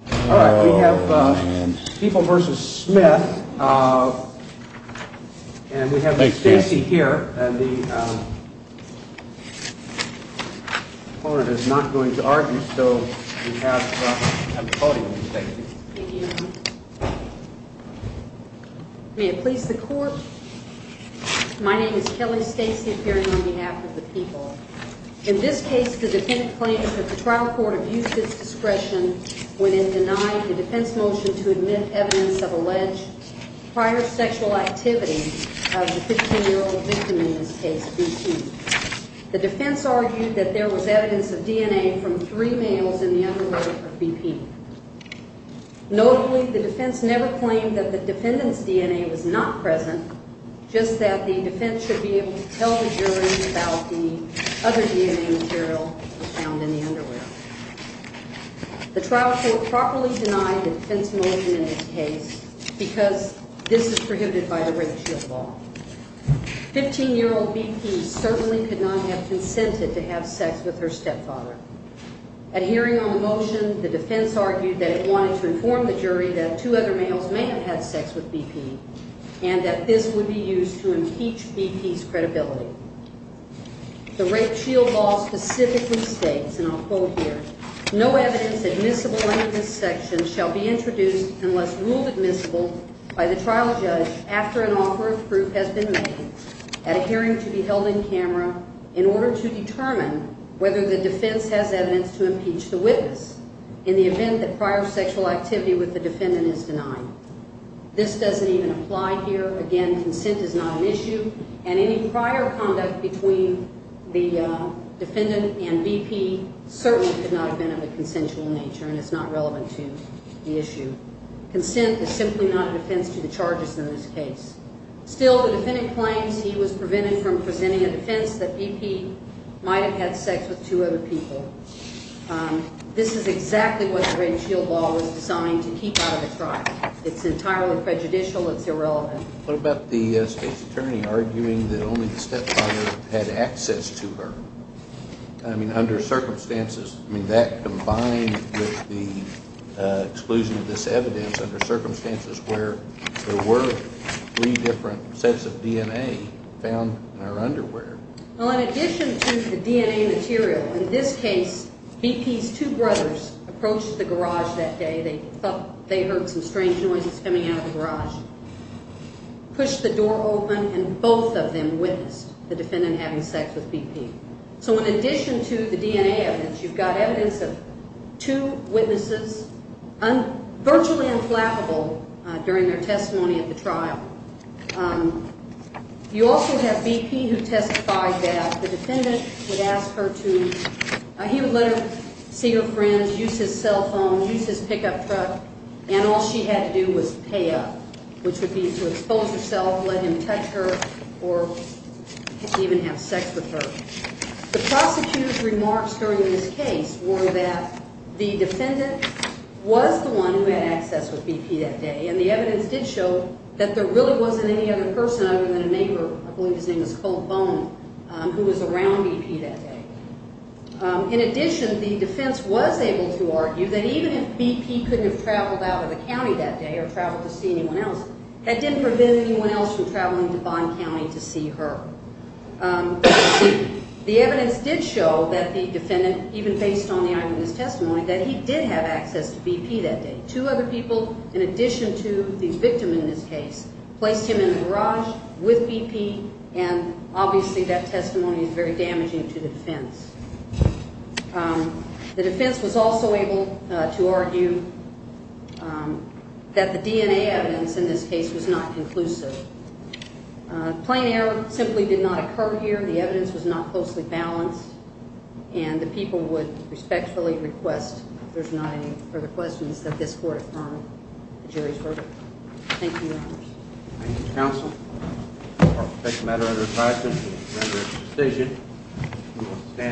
Kelly Stacey appearing on behalf of the people. In this case, the defendant claimed that the trial court abused its discretion when it denied the defense motion to admit evidence of alleged prior sexual activity of the 15-year-old victim in this case, BP. The defense argued that there was evidence of DNA from three males in the underwear of BP. Notably, the defense never claimed that the defendant's DNA was not present, just that the defense should be able to tell the jury about the other DNA material found in the underwear. The trial court properly denied the defense motion in this case because this is prohibited by the rape shield law. 15-year-old BP certainly could not have consented to have sex with her stepfather. At hearing on the motion, the defense argued that it wanted to inform the jury that two other males may have had sex with BP and that this would be used to impeach BP's credibility. The rape shield law specifically states, and I'll quote here, This doesn't even apply here. Again, consent is not an issue, and any prior conduct between the defendant and BP certainly could not have been of a consensual nature, and it's not relevant to the issue. Consent is simply not a defense to the charges in this case. Still, the defendant claims he was prevented from presenting a defense that BP might have had sex with two other people. This is exactly what the rape shield law was designed to keep out of the trial. It's entirely prejudicial. It's irrelevant. What about the state's attorney arguing that only the stepfather had access to her? I mean, under circumstances, I mean, that combined with the exclusion of this evidence under circumstances where there were three different sets of DNA found in her underwear. Well, in addition to the DNA material, in this case, BP's two brothers approached the garage that day. They thought they heard some strange noises coming out of the garage, pushed the door open, and both of them witnessed the defendant having sex with BP. So in addition to the DNA evidence, you've got evidence of two witnesses virtually unflappable during their testimony at the trial. You also have BP who testified that the defendant would ask her to – he would let her see her friends, use his cell phone, use his pickup truck, and all she had to do was pay up, which would be to expose herself, let him touch her, or even have sex with her. The prosecutor's remarks during this case were that the defendant was the one who had access with BP that day, and the evidence did show that there really wasn't any other person other than a neighbor, I believe his name was Colt Bone, who was around BP that day. In addition, the defense was able to argue that even if BP couldn't have traveled out of the county that day or traveled to see anyone else, that didn't prevent anyone else from traveling to Bond County to see her. The evidence did show that the defendant, even based on the item of his testimony, that he did have access to BP that day. Two other people, in addition to the victim in this case, placed him in a garage with BP, and obviously that testimony is very damaging to the defense. The defense was also able to argue that the DNA evidence in this case was not conclusive. Plain error simply did not occur here. The evidence was not closely balanced, and the people would respectfully request, if there's not any further questions, that this court affirm the jury's verdict. Thank you, Your Honors. Thank you, Counsel. I'll take the matter under advisement and render it to the station.